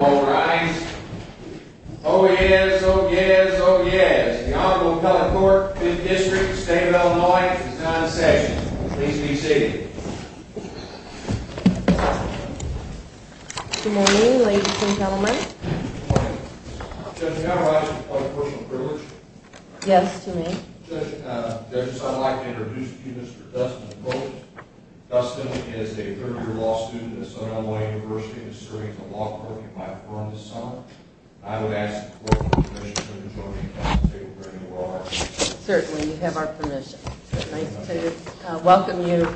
All rise. Oh yes, oh yes, oh yes. The Honorable Cutler Court, 5th District, the State of Illinois, is now in session. Please be seated. Good morning, ladies and gentlemen. Judge, may I rise for public personal privilege? Yes, you may. Judge, does it sound like to introduce to you Mr. Dustin Coates. Dustin is a third-year law student at Sonoma University and is serving as a law clerk at my firm this summer. I would ask for your permission to join me and take a break. Certainly, you have our permission. It's nice to welcome you.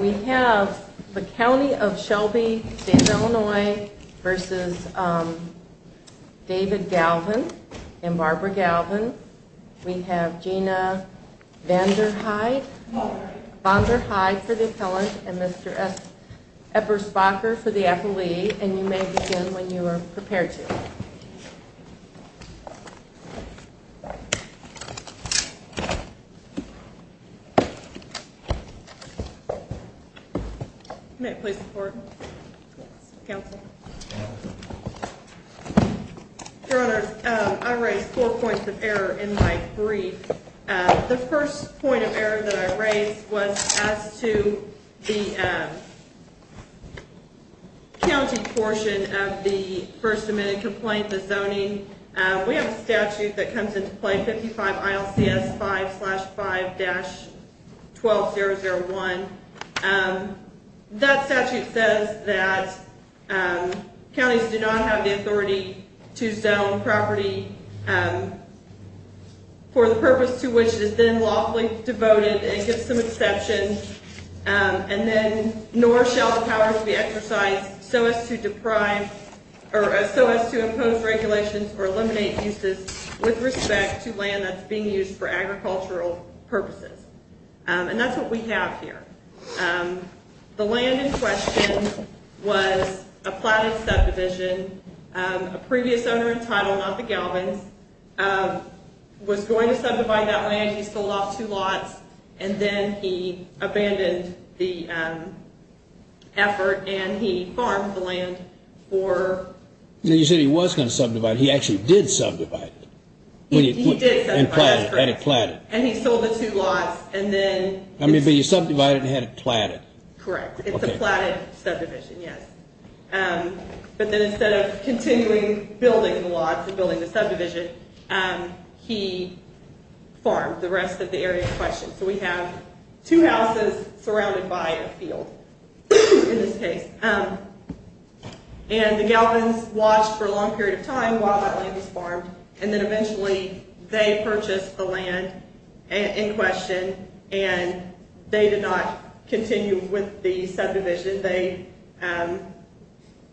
We have the County of Shelby, State of Illinois v. David Galvin and Barbara Galvin. We have Gina Vanderhyde for the appellant and Mr. Eppersbacher for the appellee. And you may begin when you are prepared to. You may please report. Counsel. Your Honor, I raised four points of error in my brief. The first point of error that I raised was as to the county portion of the first amendment complaint, the zoning. We have a statute that comes into play, 55 ILCS 5-5-12-001. That statute says that counties do not have the authority to zone property for the purpose to which it has been lawfully devoted. It gives some exception. And then nor shall the powers be exercised so as to deprive or so as to impose regulations or eliminate uses with respect to land that's being used for agricultural purposes. And that's what we have here. The land in question was a platted subdivision. A previous owner in title, not the Galvins, was going to subdivide that land. He sold off two lots and then he abandoned the effort and he farmed the land for... You said he was going to subdivide it. He actually did subdivide it. He did subdivide it. And it platted. And he sold the two lots and then... But you subdivided it and had it platted. Correct. It's a platted subdivision, yes. But then instead of continuing building the lots and building the subdivision, he farmed the rest of the area in question. So we have two houses surrounded by a field in this case. And the Galvins watched for a long period of time while that land was farmed. And then eventually they purchased the land in question and they did not continue with the subdivision. They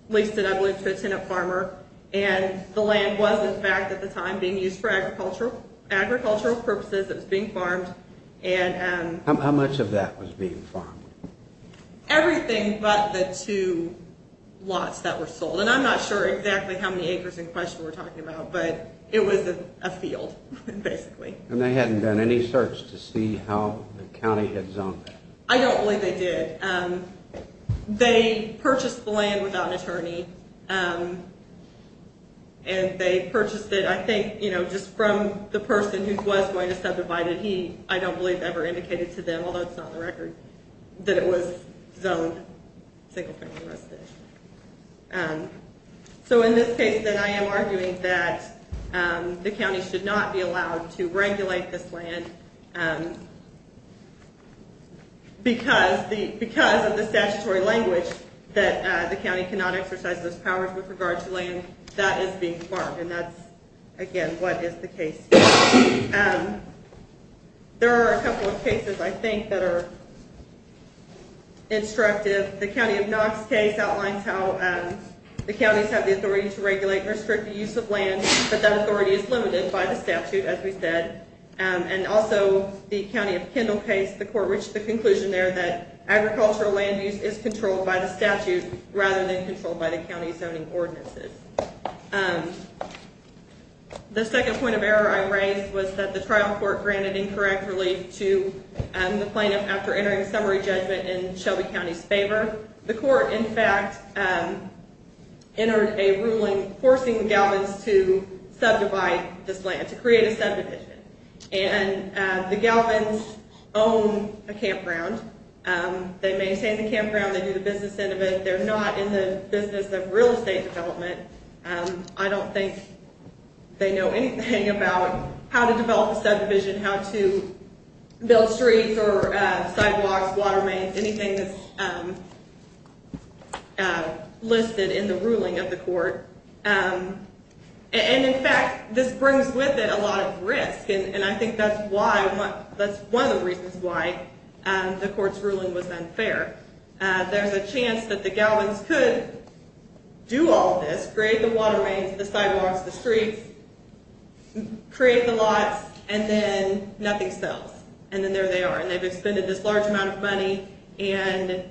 leased it, I believe, to a tenant farmer. And the land was, in fact, at the time being used for agricultural purposes. It was being farmed. How much of that was being farmed? Everything but the two lots that were sold. And I'm not sure exactly how many acres in question we're talking about, but it was a field, basically. And they hadn't done any search to see how the county had zoned that? I don't believe they did. They purchased the land without an attorney. And they purchased it, I think, just from the person who was going to subdivide it. He, I don't believe, ever indicated to them, although it's not on the record, that it was zoned single-family residential. So in this case, then, I am arguing that the county should not be allowed to regulate this land because of the statutory language that the county cannot exercise those powers with regard to land that is being farmed. And that's, again, what is the case here. There are a couple of cases, I think, that are instructive. The county of Knox case outlines how the counties have the authority to regulate and restrict the use of land, but that authority is limited by the statute, as we said. And also the county of Kendall case, the court reached the conclusion there that agricultural land use is controlled by the statute rather than controlled by the county zoning ordinances. The second point of error I raised was that the trial court granted incorrect relief to the plaintiff after entering a summary judgment in Shelby County's favor. The court, in fact, entered a ruling forcing the Galvins to subdivide this land, to create a subdivision. And the Galvins own a campground. They maintain the campground. They do the business end of it. They're not in the business of real estate development. I don't think they know anything about how to develop a subdivision, how to build streets or sidewalks, water mains, anything that's listed in the ruling of the court. And, in fact, this brings with it a lot of risk. And I think that's one of the reasons why the court's ruling was unfair. There's a chance that the Galvins could do all this, create the water mains, the sidewalks, the streets, create the lots, and then nothing sells. And then there they are. And they've expended this large amount of money, and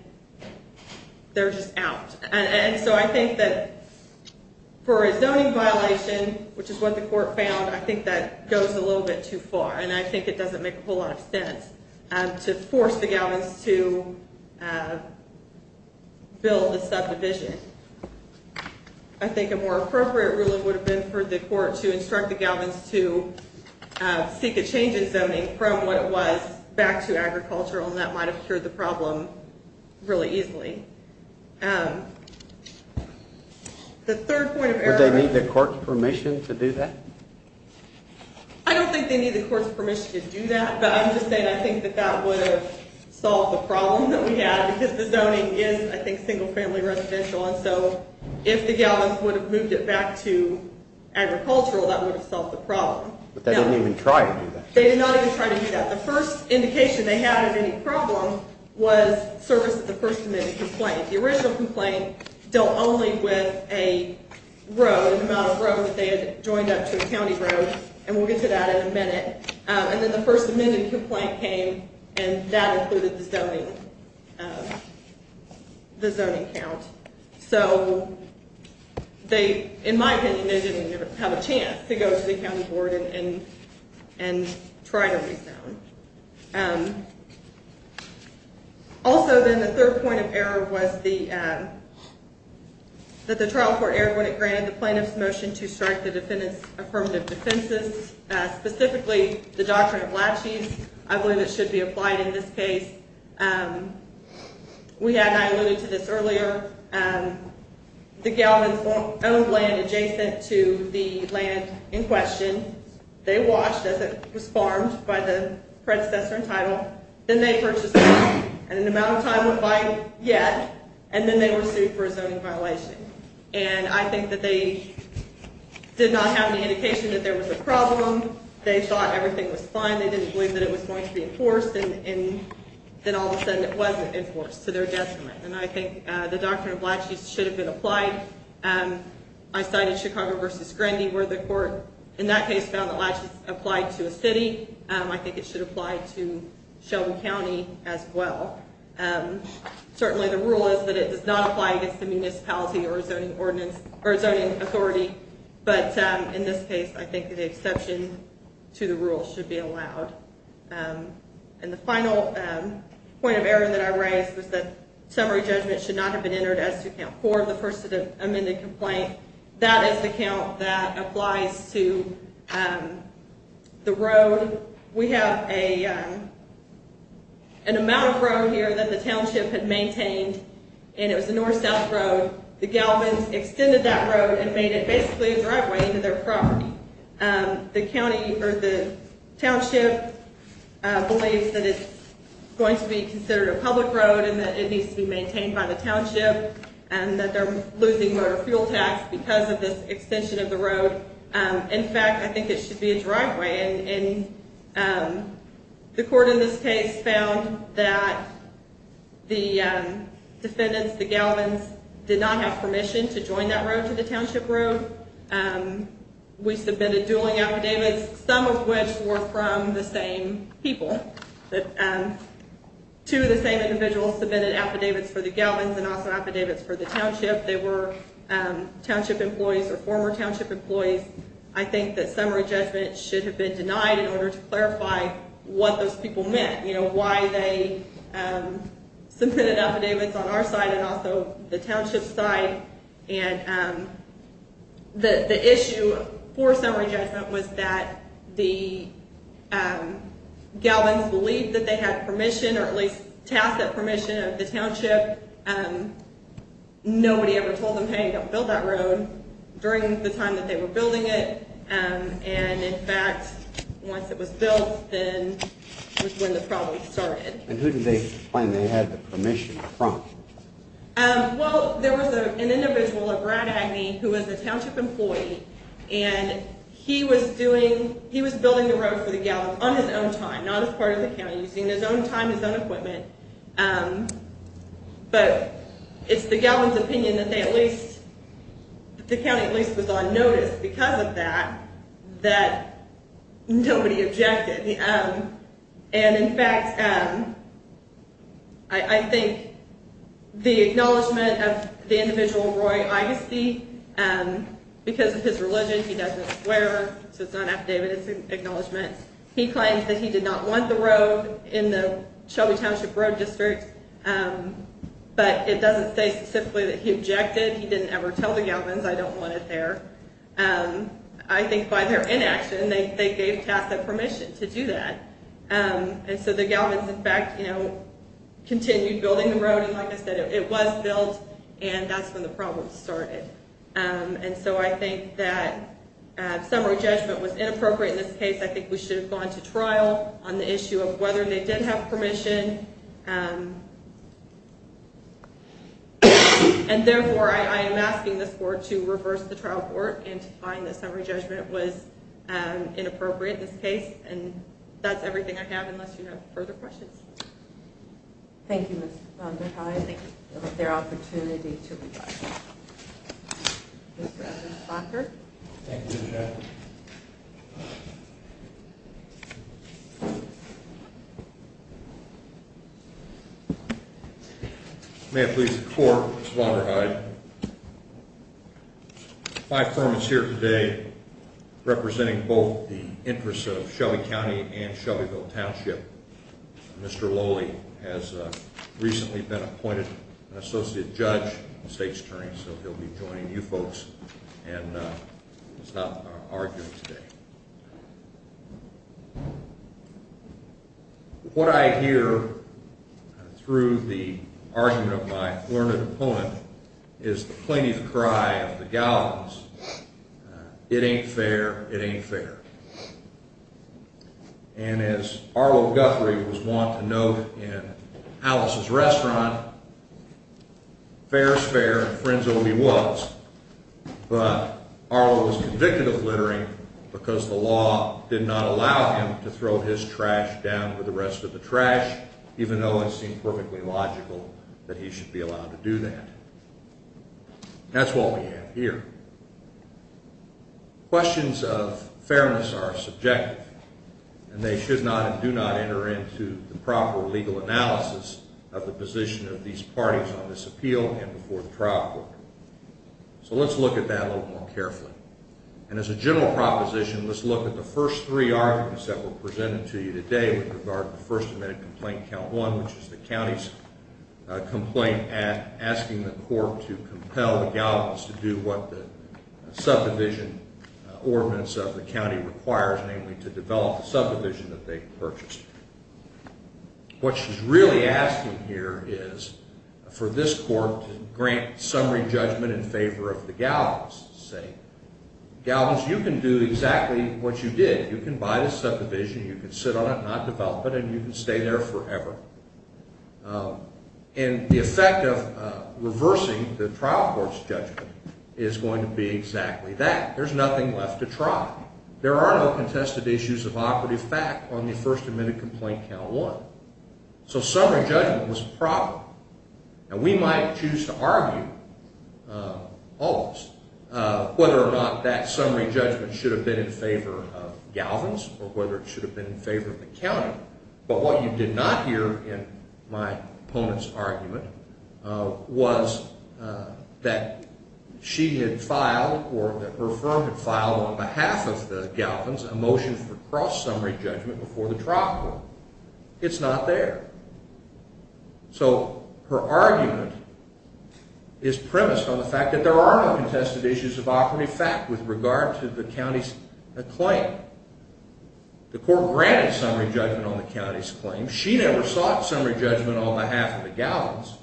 they're just out. And so I think that for a zoning violation, which is what the court found, I think that goes a little bit too far. And I think it doesn't make a whole lot of sense to force the Galvins to build the subdivision. I think a more appropriate ruling would have been for the court to instruct the Galvins to seek a change in zoning from what it was back to agricultural. And that might have cured the problem really easily. The third point of error... Would they need the court's permission to do that? I don't think they need the court's permission to do that. But I'm just saying I think that that would have solved the problem that we had. Because the zoning is, I think, single-family residential. And so if the Galvins would have moved it back to agricultural, that would have solved the problem. But they didn't even try to do that. They did not even try to do that. The first indication they had of any problem was service of the First Amendment complaint. The original complaint dealt only with a row, the amount of row that they had joined up to a county row. And we'll get to that in a minute. And then the First Amendment complaint came, and that included the zoning count. So they, in my opinion, didn't even have a chance to go to the county board and try to rezone. Also, then, the third point of error was that the trial court erred when it granted the plaintiff's motion to strike the affirmative defenses, specifically the doctrine of laches. I believe it should be applied in this case. We had not alluded to this earlier. The Galvins owned land adjacent to the land in question. They watched as it was farmed by the predecessor in title. Then they purchased land, and an amount of time went by yet, and then they were sued for a zoning violation. And I think that they did not have any indication that there was a problem. They thought everything was fine. They didn't believe that it was going to be enforced, and then all of a sudden it wasn't enforced to their detriment. And I think the doctrine of laches should have been applied. I cited Chicago v. Grendy, where the court in that case found that laches applied to a city. I think it should apply to Shelby County as well. Certainly the rule is that it does not apply against the municipality or zoning authority. But in this case, I think the exception to the rule should be allowed. And the final point of error that I raised was that summary judgment should not have been entered as to count 4 of the first amended complaint. That is the count that applies to the road. We have an amount of road here that the township had maintained, and it was a north-south road. The Galvins extended that road and made it basically a driveway into their property. The township believes that it's going to be considered a public road and that it needs to be maintained by the township, and that they're losing motor fuel tax because of this extension of the road. In fact, I think it should be a driveway. And the court in this case found that the defendants, the Galvins, did not have permission to join that road to the township road. We submitted dueling affidavits, some of which were from the same people. Two of the same individuals submitted affidavits for the Galvins and also affidavits for the township. They were township employees or former township employees. I think that summary judgment should have been denied in order to clarify what those people meant, why they submitted affidavits on our side and also the township's side. And the issue for summary judgment was that the Galvins believed that they had permission, or at least tasked that permission of the township. Nobody ever told them, hey, don't build that road, during the time that they were building it. And in fact, once it was built, then was when the problem started. And who did they claim they had the permission from? Well, there was an individual, a Brad Agney, who was a township employee, and he was building the road for the Galvins on his own time, not as part of the county, using his own time, his own equipment. But it's the Galvins' opinion that they at least, that the county at least was on notice because of that, that nobody objected. And in fact, I think the acknowledgment of the individual, Roy Augusty, because of his religion, he doesn't swear, so it's not affidavit, it's an acknowledgment. He claims that he did not want the road in the Shelby Township Road District, but it doesn't say specifically that he objected. He didn't ever tell the Galvins, I don't want it there. I think by their inaction, they gave task that permission to do that. And so the Galvins, in fact, you know, continued building the road, and like I said, it was built, and that's when the problem started. And so I think that summary judgment was inappropriate in this case. I think we should have gone to trial on the issue of whether they did have permission. And therefore, I am asking this court to reverse the trial court and to find that summary judgment was inappropriate in this case. And that's everything I have, unless you have further questions. Thank you, Ms. Vonderheide. Thank you for the opportunity to respond. Mr. Evans-Bakker? Thank you, Mr. Chairman. May it please the court, Ms. Vonderheide, my firm is here today representing both the interests of Shelby County and Shelbyville Township. Mr. Lowley has recently been appointed an associate judge and state's attorney, so he'll be joining you folks and stop our argument today. What I hear through the argument of my learned opponent is the plaintiff cry of the Galvins, it ain't fair, it ain't fair. And as Arlo Guthrie was wont to note in Alice's Restaurant, fair is fair and frienzo he was, but Arlo was convicted of littering because the law did not allow him to throw his trash down with the rest of the trash, even though it seemed perfectly logical that he should be allowed to do that. That's what we have here. Questions of fairness are subjective, and they should not and do not enter into the proper legal analysis of the position of these parties on this appeal and before the trial court. So let's look at that a little more carefully. And as a general proposition, let's look at the first three arguments that were presented to you today with regard to the first admitted complaint, Count 1, which is the county's complaint asking the court to compel the Galvins to do what the subdivision ordinance of the county requires, namely to develop the subdivision that they purchased. What she's really asking here is for this court to grant summary judgment in favor of the Galvins, saying, Galvins, you can do exactly what you did. You can buy the subdivision, you can sit on it and not develop it, and you can stay there forever. And the effect of reversing the trial court's judgment is going to be exactly that. There's nothing left to try. There are no contested issues of operative fact on the first admitted complaint, Count 1. So summary judgment was proper. And we might choose to argue all of this, whether or not that summary judgment should have been in favor of Galvins or whether it should have been in favor of the county. But what you did not hear in my opponent's argument was that she had filed or that her firm had filed on behalf of the Galvins a motion for cross-summary judgment before the trial court. It's not there. So her argument is premised on the fact that there are no contested issues of operative fact with regard to the county's claim. The court granted summary judgment on the county's claim. She never sought summary judgment on behalf of the Galvins.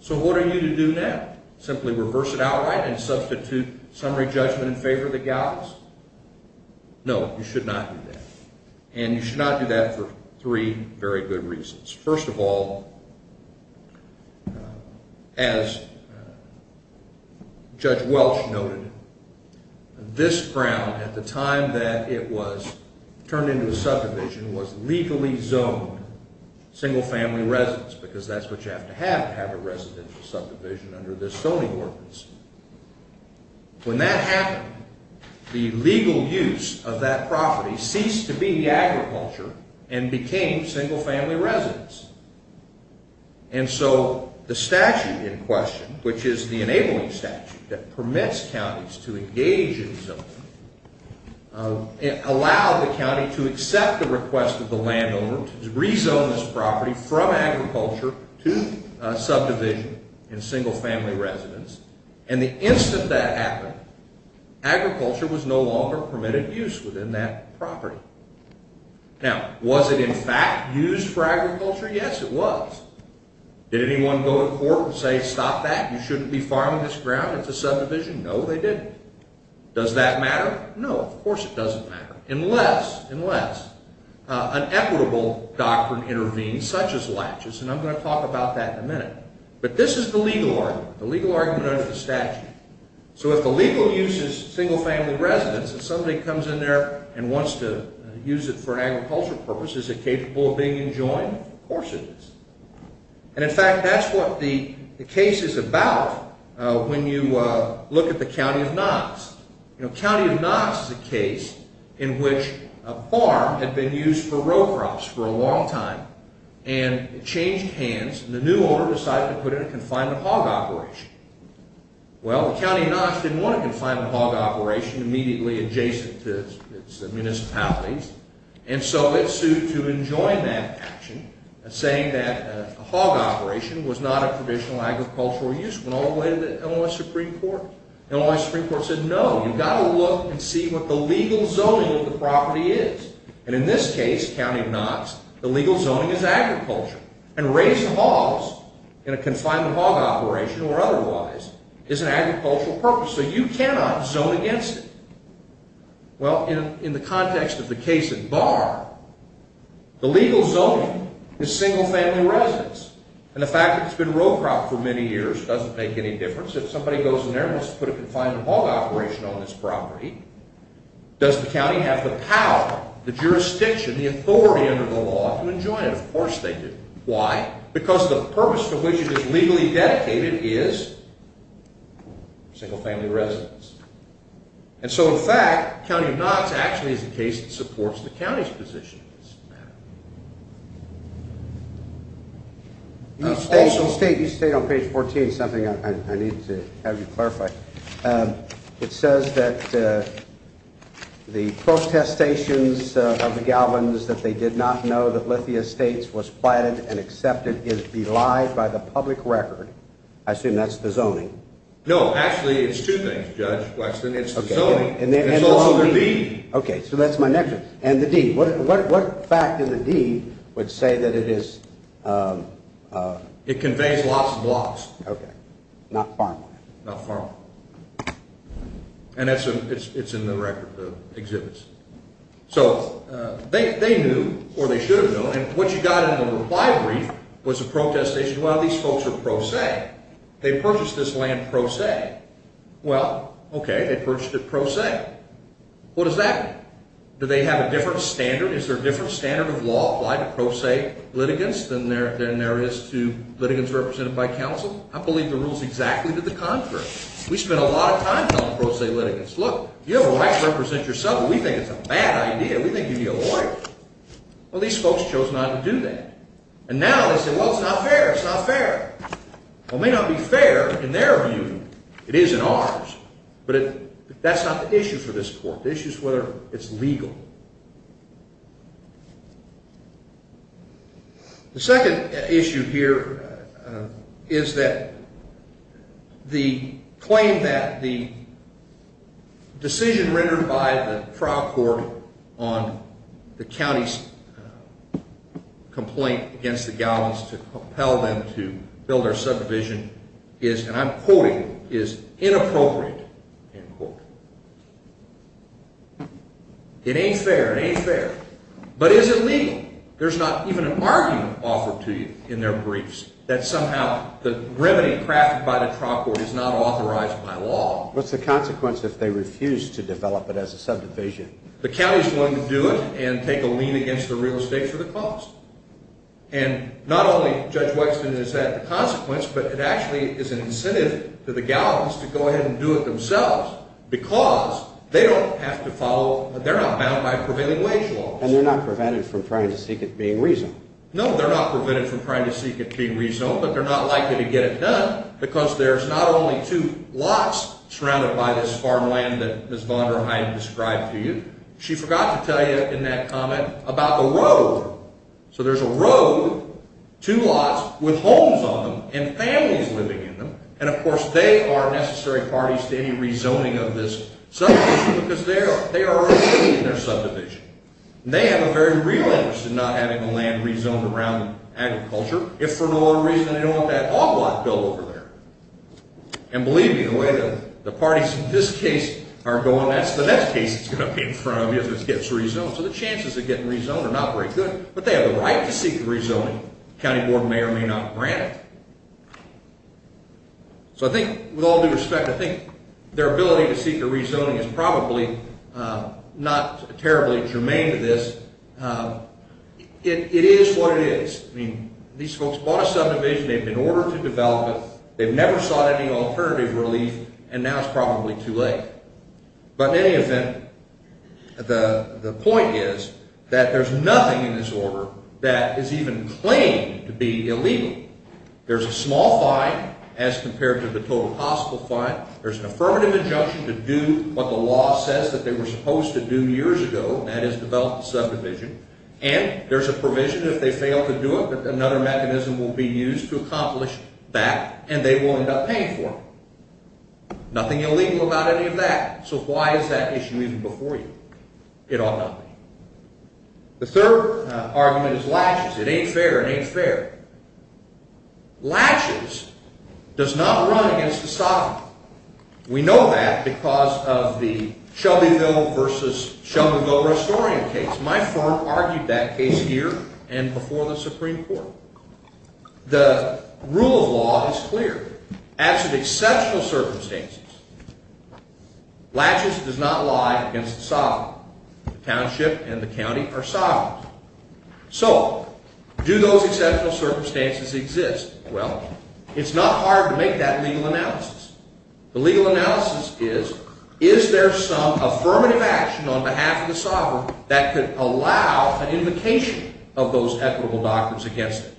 So what are you to do now? Simply reverse it outright and substitute summary judgment in favor of the Galvins? No, you should not do that. And you should not do that for three very good reasons. First of all, as Judge Welch noted, this ground at the time that it was turned into a subdivision was legally zoned single-family residence because that's what you have to have to have a residential subdivision under this zoning ordinance. When that happened, the legal use of that property ceased to be agriculture and became single-family residence. And so the statute in question, which is the enabling statute that permits counties to engage in zoning, allowed the county to accept the request of the landowner to rezone this property from agriculture to subdivision and single-family residence. And the instant that happened, agriculture was no longer permitted use within that property. Now, was it in fact used for agriculture? Yes, it was. Did anyone go to court and say stop that? You shouldn't be farming this ground. It's a subdivision. No, they didn't. Does that matter? No, of course it doesn't matter. Unless an equitable doctrine intervenes, such as latches, and I'm going to talk about that in a minute. But this is the legal argument, the legal argument under the statute. So if the legal use is single-family residence and somebody comes in there and wants to use it for an agricultural purpose, is it capable of being enjoined? Of course it is. And in fact, that's what the case is about when you look at the County of Knox. You know, County of Knox is a case in which a farm had been used for row crops for a long time, and it changed hands and the new owner decided to put in a confinement hog operation. Well, the County of Knox didn't want a confinement hog operation immediately adjacent to its municipalities, and so it sued to enjoin that action, saying that a hog operation was not a traditional agricultural use. It went all the way to the Illinois Supreme Court. Illinois Supreme Court said, no, you've got to look and see what the legal zoning of the property is. And in this case, County of Knox, the legal zoning is agriculture. And raising hogs in a confinement hog operation or otherwise is an agricultural purpose. So you cannot zone against it. Well, in the context of the case at Barr, the legal zoning is single-family residence, and the fact that it's been row cropped for many years doesn't make any difference. If somebody goes in there and wants to put a confinement hog operation on this property, does the county have the power, the jurisdiction, the authority under the law to enjoin it? Of course they do. Why? Because the purpose for which it is legally dedicated is single-family residence. And so, in fact, County of Knox actually is a case that supports the county's position on this matter. You state on page 14 something I need to have you clarify. It says that the protestations of the Galvins that they did not know that Lithia Estates was planted and accepted is belied by the public record. I assume that's the zoning. No, actually it's two things, Judge Wexton. It's the zoning. It's also the deed. Okay, so that's my next one. And the deed. What fact in the deed would say that it is? It conveys lots of blocks. Okay. Not farmland. Not farmland. And it's in the record, the exhibits. So they knew, or they should have known, and what you got in the reply brief was a protestation, well, these folks are pro se. They purchased this land pro se. Well, okay, they purchased it pro se. What does that mean? Do they have a different standard? Is there a different standard of law applied to pro se litigants than there is to litigants represented by counsel? I believe the rule is exactly to the contrary. We spend a lot of time telling pro se litigants, look, you have a right to represent yourself, but we think it's a bad idea. We think you need a lawyer. Well, these folks chose not to do that. And now they say, well, it's not fair. It's not fair. It may not be fair in their view. It is in ours. But that's not the issue for this court. The issue is whether it's legal. The second issue here is that the claim that the decision rendered by the trial court on the county's complaint against the Gowans to compel them to build their subdivision is, and I'm quoting, is inappropriate, end quote. It ain't fair. It ain't fair. But is it legal? There's not even an argument offered to you in their briefs that somehow the remedy crafted by the trial court is not authorized by law. What's the consequence if they refuse to develop it as a subdivision? The county's willing to do it and take a lien against the real estate for the cost. And not only, Judge Wexton, is that the consequence, but it actually is an incentive for the Gowans to go ahead and do it themselves because they don't have to follow, they're not bound by prevailing wage laws. And they're not prevented from trying to seek it being reasonable. No, they're not prevented from trying to seek it being reasonable, but they're not likely to get it done because there's not only two lots surrounded by this farmland that Ms. Vonderheim described to you. She forgot to tell you in that comment about the road. So there's a road, two lots with homes on them and families living in them. And, of course, they are necessary parties to any rezoning of this subdivision because they are already in their subdivision. And they have a very real interest in not having the land rezoned around agriculture if for no other reason they don't want that hog lot built over there. And believe me, the way the parties in this case are going, that's the next case that's going to be in front of you if it gets rezoned. So the chances of it getting rezoned are not very good, but they have a right to seek the rezoning. The county board may or may not grant it. So I think with all due respect, I think their ability to seek the rezoning is probably not terribly germane to this. It is what it is. I mean, these folks bought a subdivision. They've been ordered to develop it. They've never sought any alternative relief, and now it's probably too late. But in any event, the point is that there's nothing in this order that is even claimed to be illegal. There's a small fine as compared to the total possible fine. There's an affirmative injunction to do what the law says that they were supposed to do years ago, and that is develop the subdivision. And there's a provision if they fail to do it that another mechanism will be used to accomplish that, and they will end up paying for it. Nothing illegal about any of that. So why is that issue even before you? It ought not be. The third argument is latches. It ain't fair. It ain't fair. Latches does not run against the sovereign. We know that because of the Shelbyville versus Shelbyville-Restorian case. My firm argued that case here and before the Supreme Court. The rule of law is clear. The township and the county are sovereigns. So do those exceptional circumstances exist? Well, it's not hard to make that legal analysis. The legal analysis is, is there some affirmative action on behalf of the sovereign that could allow an invocation of those equitable doctrines against it?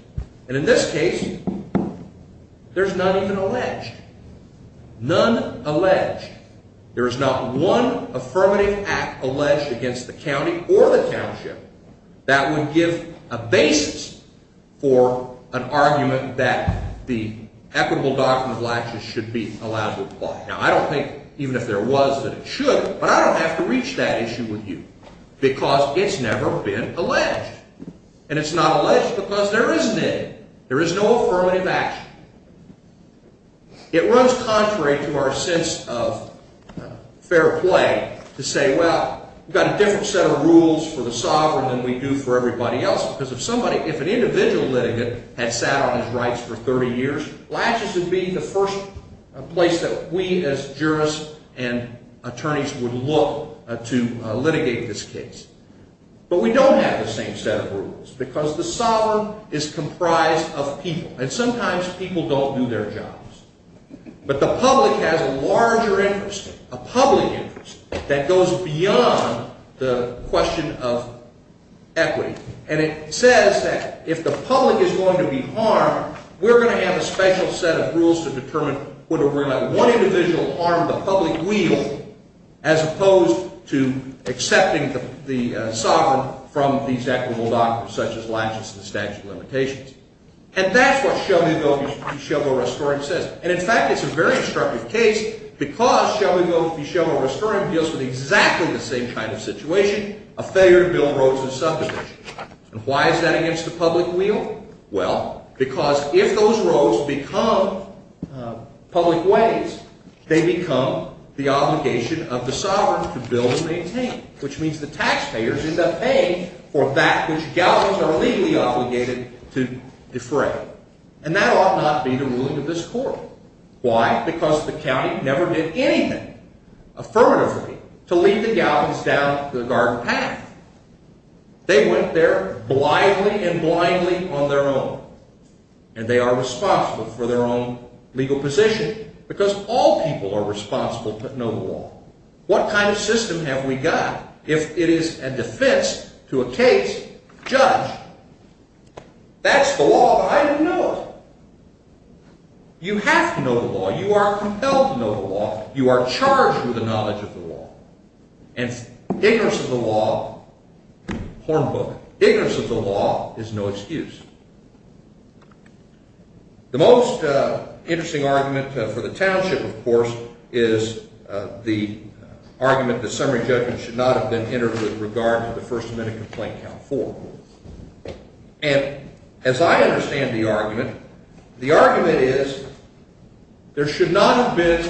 And in this case, there's none even alleged. None alleged. There is not one affirmative act alleged against the county or the township that would give a basis for an argument that the equitable doctrine of latches should be allowed to apply. Now, I don't think even if there was that it should, but I don't have to reach that issue with you because it's never been alleged. And it's not alleged because there isn't any. There is no affirmative action. It runs contrary to our sense of fair play to say, well, we've got a different set of rules for the sovereign than we do for everybody else because if an individual litigant had sat on his rights for 30 years, latches would be the first place that we as jurists and attorneys would look to litigate this case. But we don't have the same set of rules because the sovereign is comprised of people, and sometimes people don't do their jobs. But the public has a larger interest, a public interest, that goes beyond the question of equity. And it says that if the public is going to be harmed, we're going to have a special set of rules to determine whether we're going to let one individual harm the public wheel as opposed to accepting the sovereign from these equitable doctrines such as latches and the statute of limitations. And that's what Shelbyville Restoring says. And, in fact, it's a very instructive case because Shelbyville Restoring deals with exactly the same kind of situation, a failure to build roads and subdivisions. And why is that against the public wheel? Well, because if those roads become public ways, which means the taxpayers end up paying for that which galvans are legally obligated to defray. And that ought not be the ruling of this court. Why? Because the county never did anything affirmatively to lead the galvans down the dark path. They went there blithely and blindly on their own, and they are responsible for their own legal position because all people are responsible, but no more. What kind of system have we got? If it is a defense to a case, judge, that's the law, but I didn't know it. You have to know the law. You are compelled to know the law. You are charged with the knowledge of the law. And ignorance of the law, hornbook, ignorance of the law is no excuse. The most interesting argument for the township, of course, is the argument that summary judgment should not have been entered with regard to the First Amendment Complaint Count 4. And as I understand the argument, the argument is there should not have been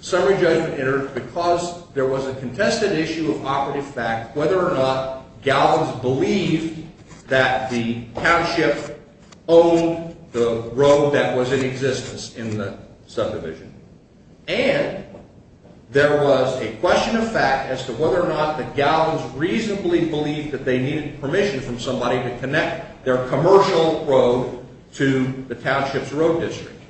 summary judgment entered because there was a contested issue of operative fact, whether or not galvans believed that the township owned the road that was in existence in the subdivision. And there was a question of fact as to whether or not the galvans reasonably believed that they needed permission from somebody to connect their commercial road to the township's road district.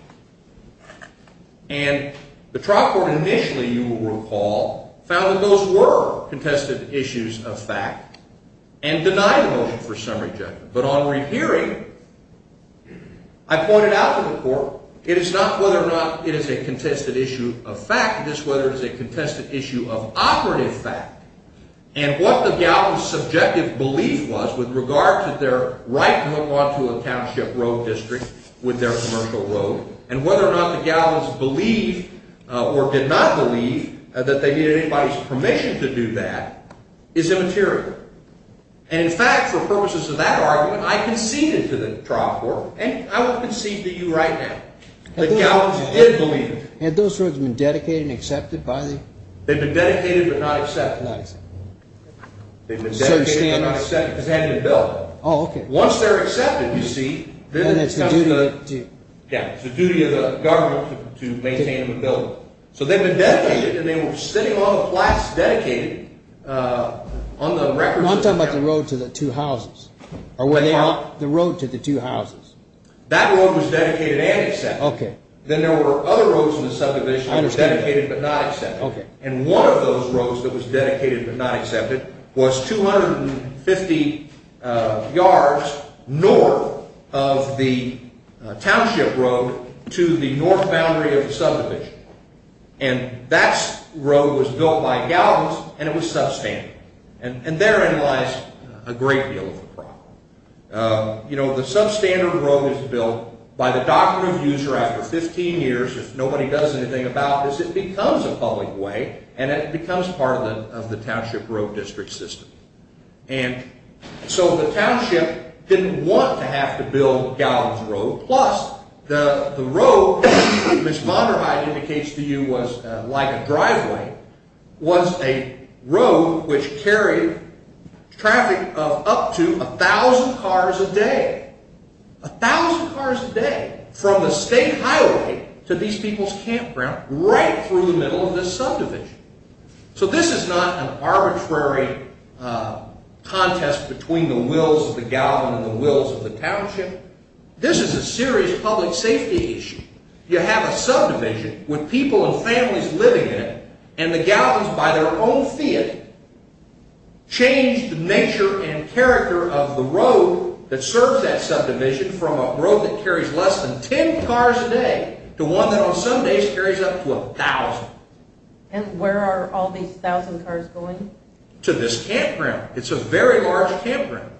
And the trial court initially, you will recall, found that those were contested issues of fact and denied the motion for summary judgment. But on rehearing, I pointed out to the court, it is not whether or not it is a contested issue of fact, it is whether it is a contested issue of operative fact. And what the galvans' subjective belief was with regard to their right to hook onto a township road district with their commercial road, and whether or not the galvans believed or did not believe that they needed anybody's permission to do that, is immaterial. And in fact, for purposes of that argument, I conceded to the trial court, and I will concede to you right now, the galvans did believe it. Had those roads been dedicated and accepted by the... They've been dedicated but not accepted. Not accepted. They've been dedicated but not accepted because they hadn't been built. Oh, okay. Once they're accepted, you see... And it's the duty of the... Yeah, it's the duty of the government to maintain the building. So they've been dedicated, and they were sitting on the flats dedicated on the record... No, I'm talking about the road to the two houses. The road to the two houses. That road was dedicated and accepted. Okay. Then there were other roads in the subdivision that were dedicated but not accepted. Okay. And one of those roads that was dedicated but not accepted was 250 yards north of the township road to the north boundary of the subdivision. And that road was built by galvans, and it was substandard. And therein lies a great deal of the problem. You know, the substandard road is built by the doctrine of user after 15 years. If nobody does anything about this, it becomes a public way, and it becomes part of the township road district system. And so the township didn't want to have to build Galvans Road. Plus, the road, as Ms. Monderheim indicates to you, was like a driveway, was a road which carried traffic of up to 1,000 cars a day. 1,000 cars a day from the state highway to these people's campground right through the middle of this subdivision. So this is not an arbitrary contest between the wills of the galvan and the wills of the township. This is a serious public safety issue. You have a subdivision with people and families living in it, and the galvans, by their own fiat, change the nature and character of the road that serves that subdivision from a road that carries less than 10 cars a day to one that on some days carries up to 1,000. And where are all these 1,000 cars going? To this campground. It's a very large campground.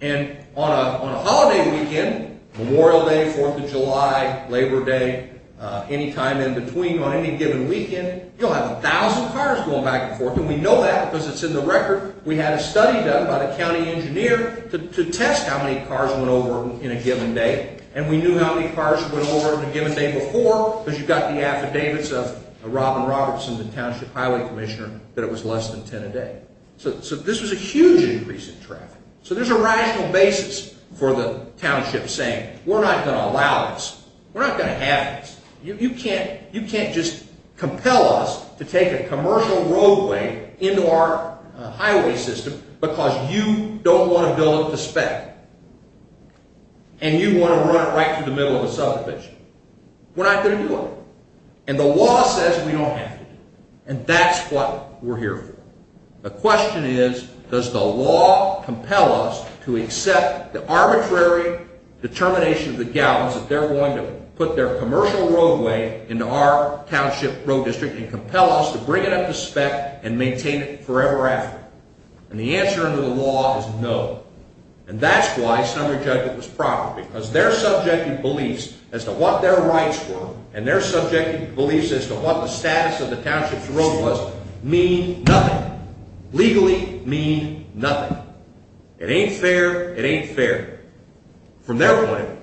And on a holiday weekend, Memorial Day, Fourth of July, Labor Day, any time in between on any given weekend, you'll have 1,000 cars going back and forth. And we know that because it's in the record. We had a study done by the county engineer to test how many cars went over in a given day. And we knew how many cars went over in a given day before because you've got the affidavits of Robin Robertson, the township highway commissioner, that it was less than 10 a day. So this was a huge increase in traffic. So there's a rational basis for the township saying, We're not going to allow this. We're not going to have this. You can't just compel us to take a commercial roadway into our highway system because you don't want to build it to spec and you want to run it right through the middle of a subdivision. We're not going to do it. And the law says we don't have to do it. And that's what we're here for. The question is, does the law compel us to accept the arbitrary determination of the gallons that they're willing to put their commercial roadway into our township road district and compel us to bring it up to spec and maintain it forever after? And the answer under the law is no. And that's why Sumner Judgment was proper because their subjective beliefs as to what their rights were and their subjective beliefs as to what the status of the township's road was mean nothing, legally mean nothing. It ain't fair. It ain't fair. From their point of view,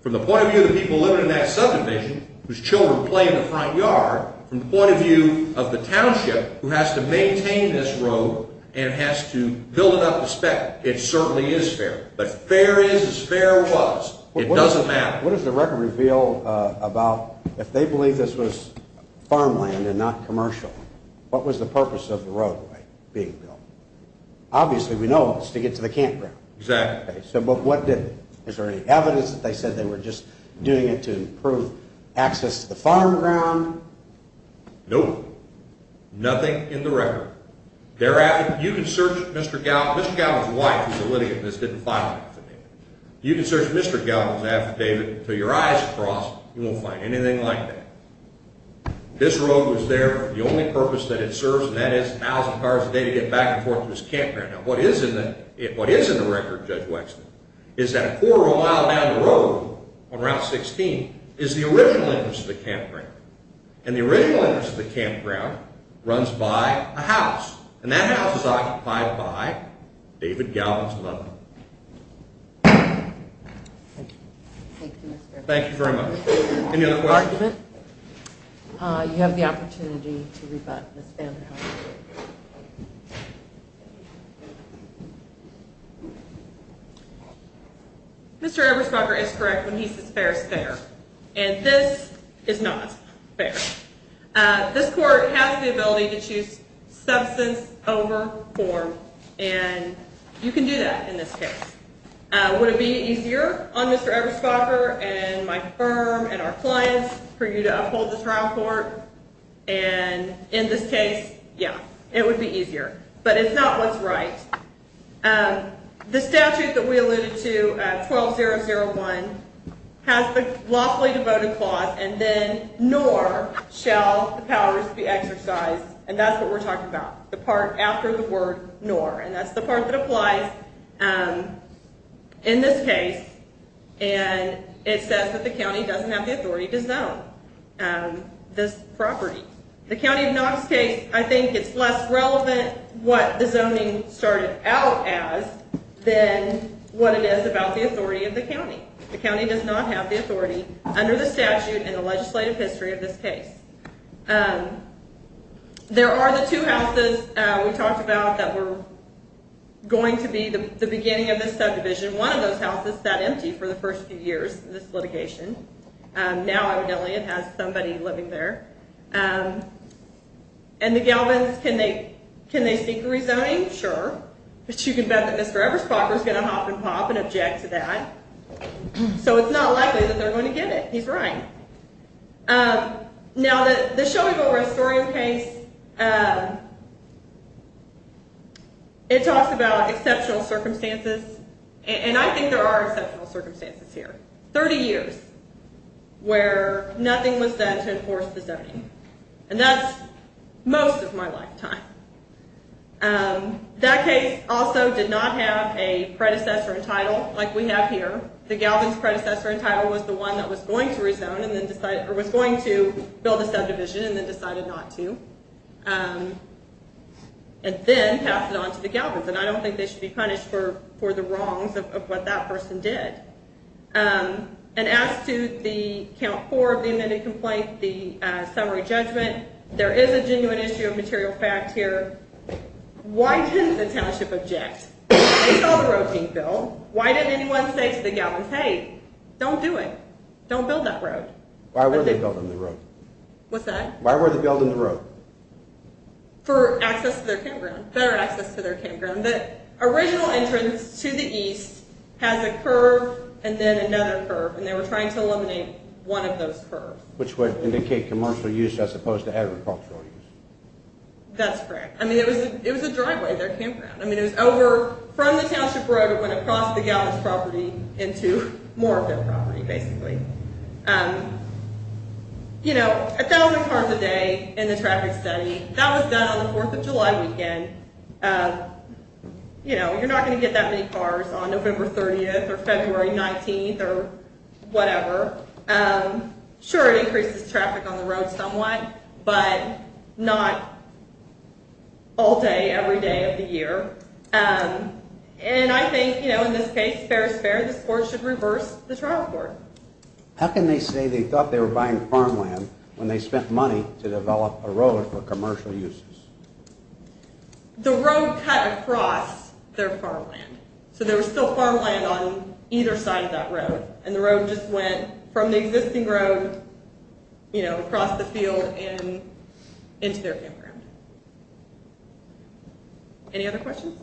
from the point of view of the people living in that subdivision whose children play in the front yard, from the point of view of the township who has to maintain this road and has to build it up to spec, it certainly is fair. But fair is as fair was. It doesn't matter. What does the record reveal about if they believe this was farmland and not commercial, what was the purpose of the roadway being built? Obviously we know it was to get to the campground. Exactly. But what did it? Is there any evidence that they said they were just doing it to improve access to the farmground? Nope. Nothing in the record. You can search Mr. Gallagher's wife, who's a litigant, and this didn't find anything. You can search Mr. Gallagher's affidavit until your eyes are crossed, you won't find anything like that. This road was there for the only purpose that it serves, and that is 1,000 cars a day to get back and forth to this campground. What is in the record, Judge Wexner, is that a quarter of a mile down the road on Route 16 is the original entrance to the campground, and the original entrance to the campground runs by a house, and that house is occupied by David Galvin's mother. Thank you. Thank you, Mr. Evans. Thank you very much. Any other questions? You have the opportunity to rebut Ms. Vanderhoef. Mr. Eberspacher is correct when he says fair is fair, and this is not fair. This court has the ability to choose substance over form, and you can do that in this case. Would it be easier on Mr. Eberspacher and my firm and our clients for you to uphold this trial court? And in this case, yeah, it would be easier. But it's not what's right. The statute that we alluded to, 12001, has the lawfully devoted clause, and then nor shall the powers be exercised, and that's what we're talking about, the part after the word nor, and that's the part that applies in this case, and it says that the county doesn't have the authority to zone this property. The County of Knox case, I think it's less relevant what the zoning started out as than what it is about the authority of the county. The county does not have the authority under the statute in the legislative history of this case. There are the two houses we talked about that were going to be the beginning of this subdivision. One of those houses sat empty for the first few years of this litigation. Now, evidently, it has somebody living there. And the Galvins, can they seek rezoning? Sure. But you can bet that Mr. Eberspacher is going to hop and pop and object to that, so it's not likely that they're going to get it. He's right. Now, the Shelbyville restorative case, it talks about exceptional circumstances, and I think there are exceptional circumstances here. 30 years where nothing was said to enforce the zoning, and that's most of my lifetime. That case also did not have a predecessor in title like we have here. The Galvins predecessor in title was the one that was going to build a subdivision and then decided not to, and then passed it on to the Galvins. And I don't think they should be punished for the wrongs of what that person did. And as to the count four of the amended complaint, the summary judgment, there is a genuine issue of material fact here. Why didn't the township object? They saw the road being built. Why didn't anyone say to the Galvins, hey, don't do it. Don't build that road. Why were they building the road? What's that? Why were they building the road? For access to their campground, better access to their campground. The original entrance to the east has a curve and then another curve, and they were trying to eliminate one of those curves. Which would indicate commercial use as opposed to agricultural use. That's correct. I mean, it was a driveway, their campground. I mean, it was over from the township road. It went across the Galvins property into more of their property, basically. You know, a thousand cars a day in the traffic study. That was done on the Fourth of July weekend. You know, you're not going to get that many cars on November 30th or February 19th or whatever. Sure, it increases traffic on the road somewhat, but not all day, every day of the year. And I think, you know, in this case, fair is fair. This court should reverse the trial court. How can they say they thought they were buying farmland when they spent money to develop a road for commercial uses? The road cut across their farmland. So there was still farmland on either side of that road. And the road just went from the existing road, you know, across the field and into their campground. Any other questions?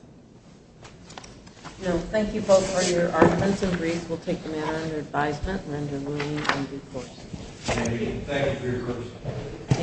No, thank you both. Our offensive briefs will take them out under advisement and under rulings and due course. Thank you for your service.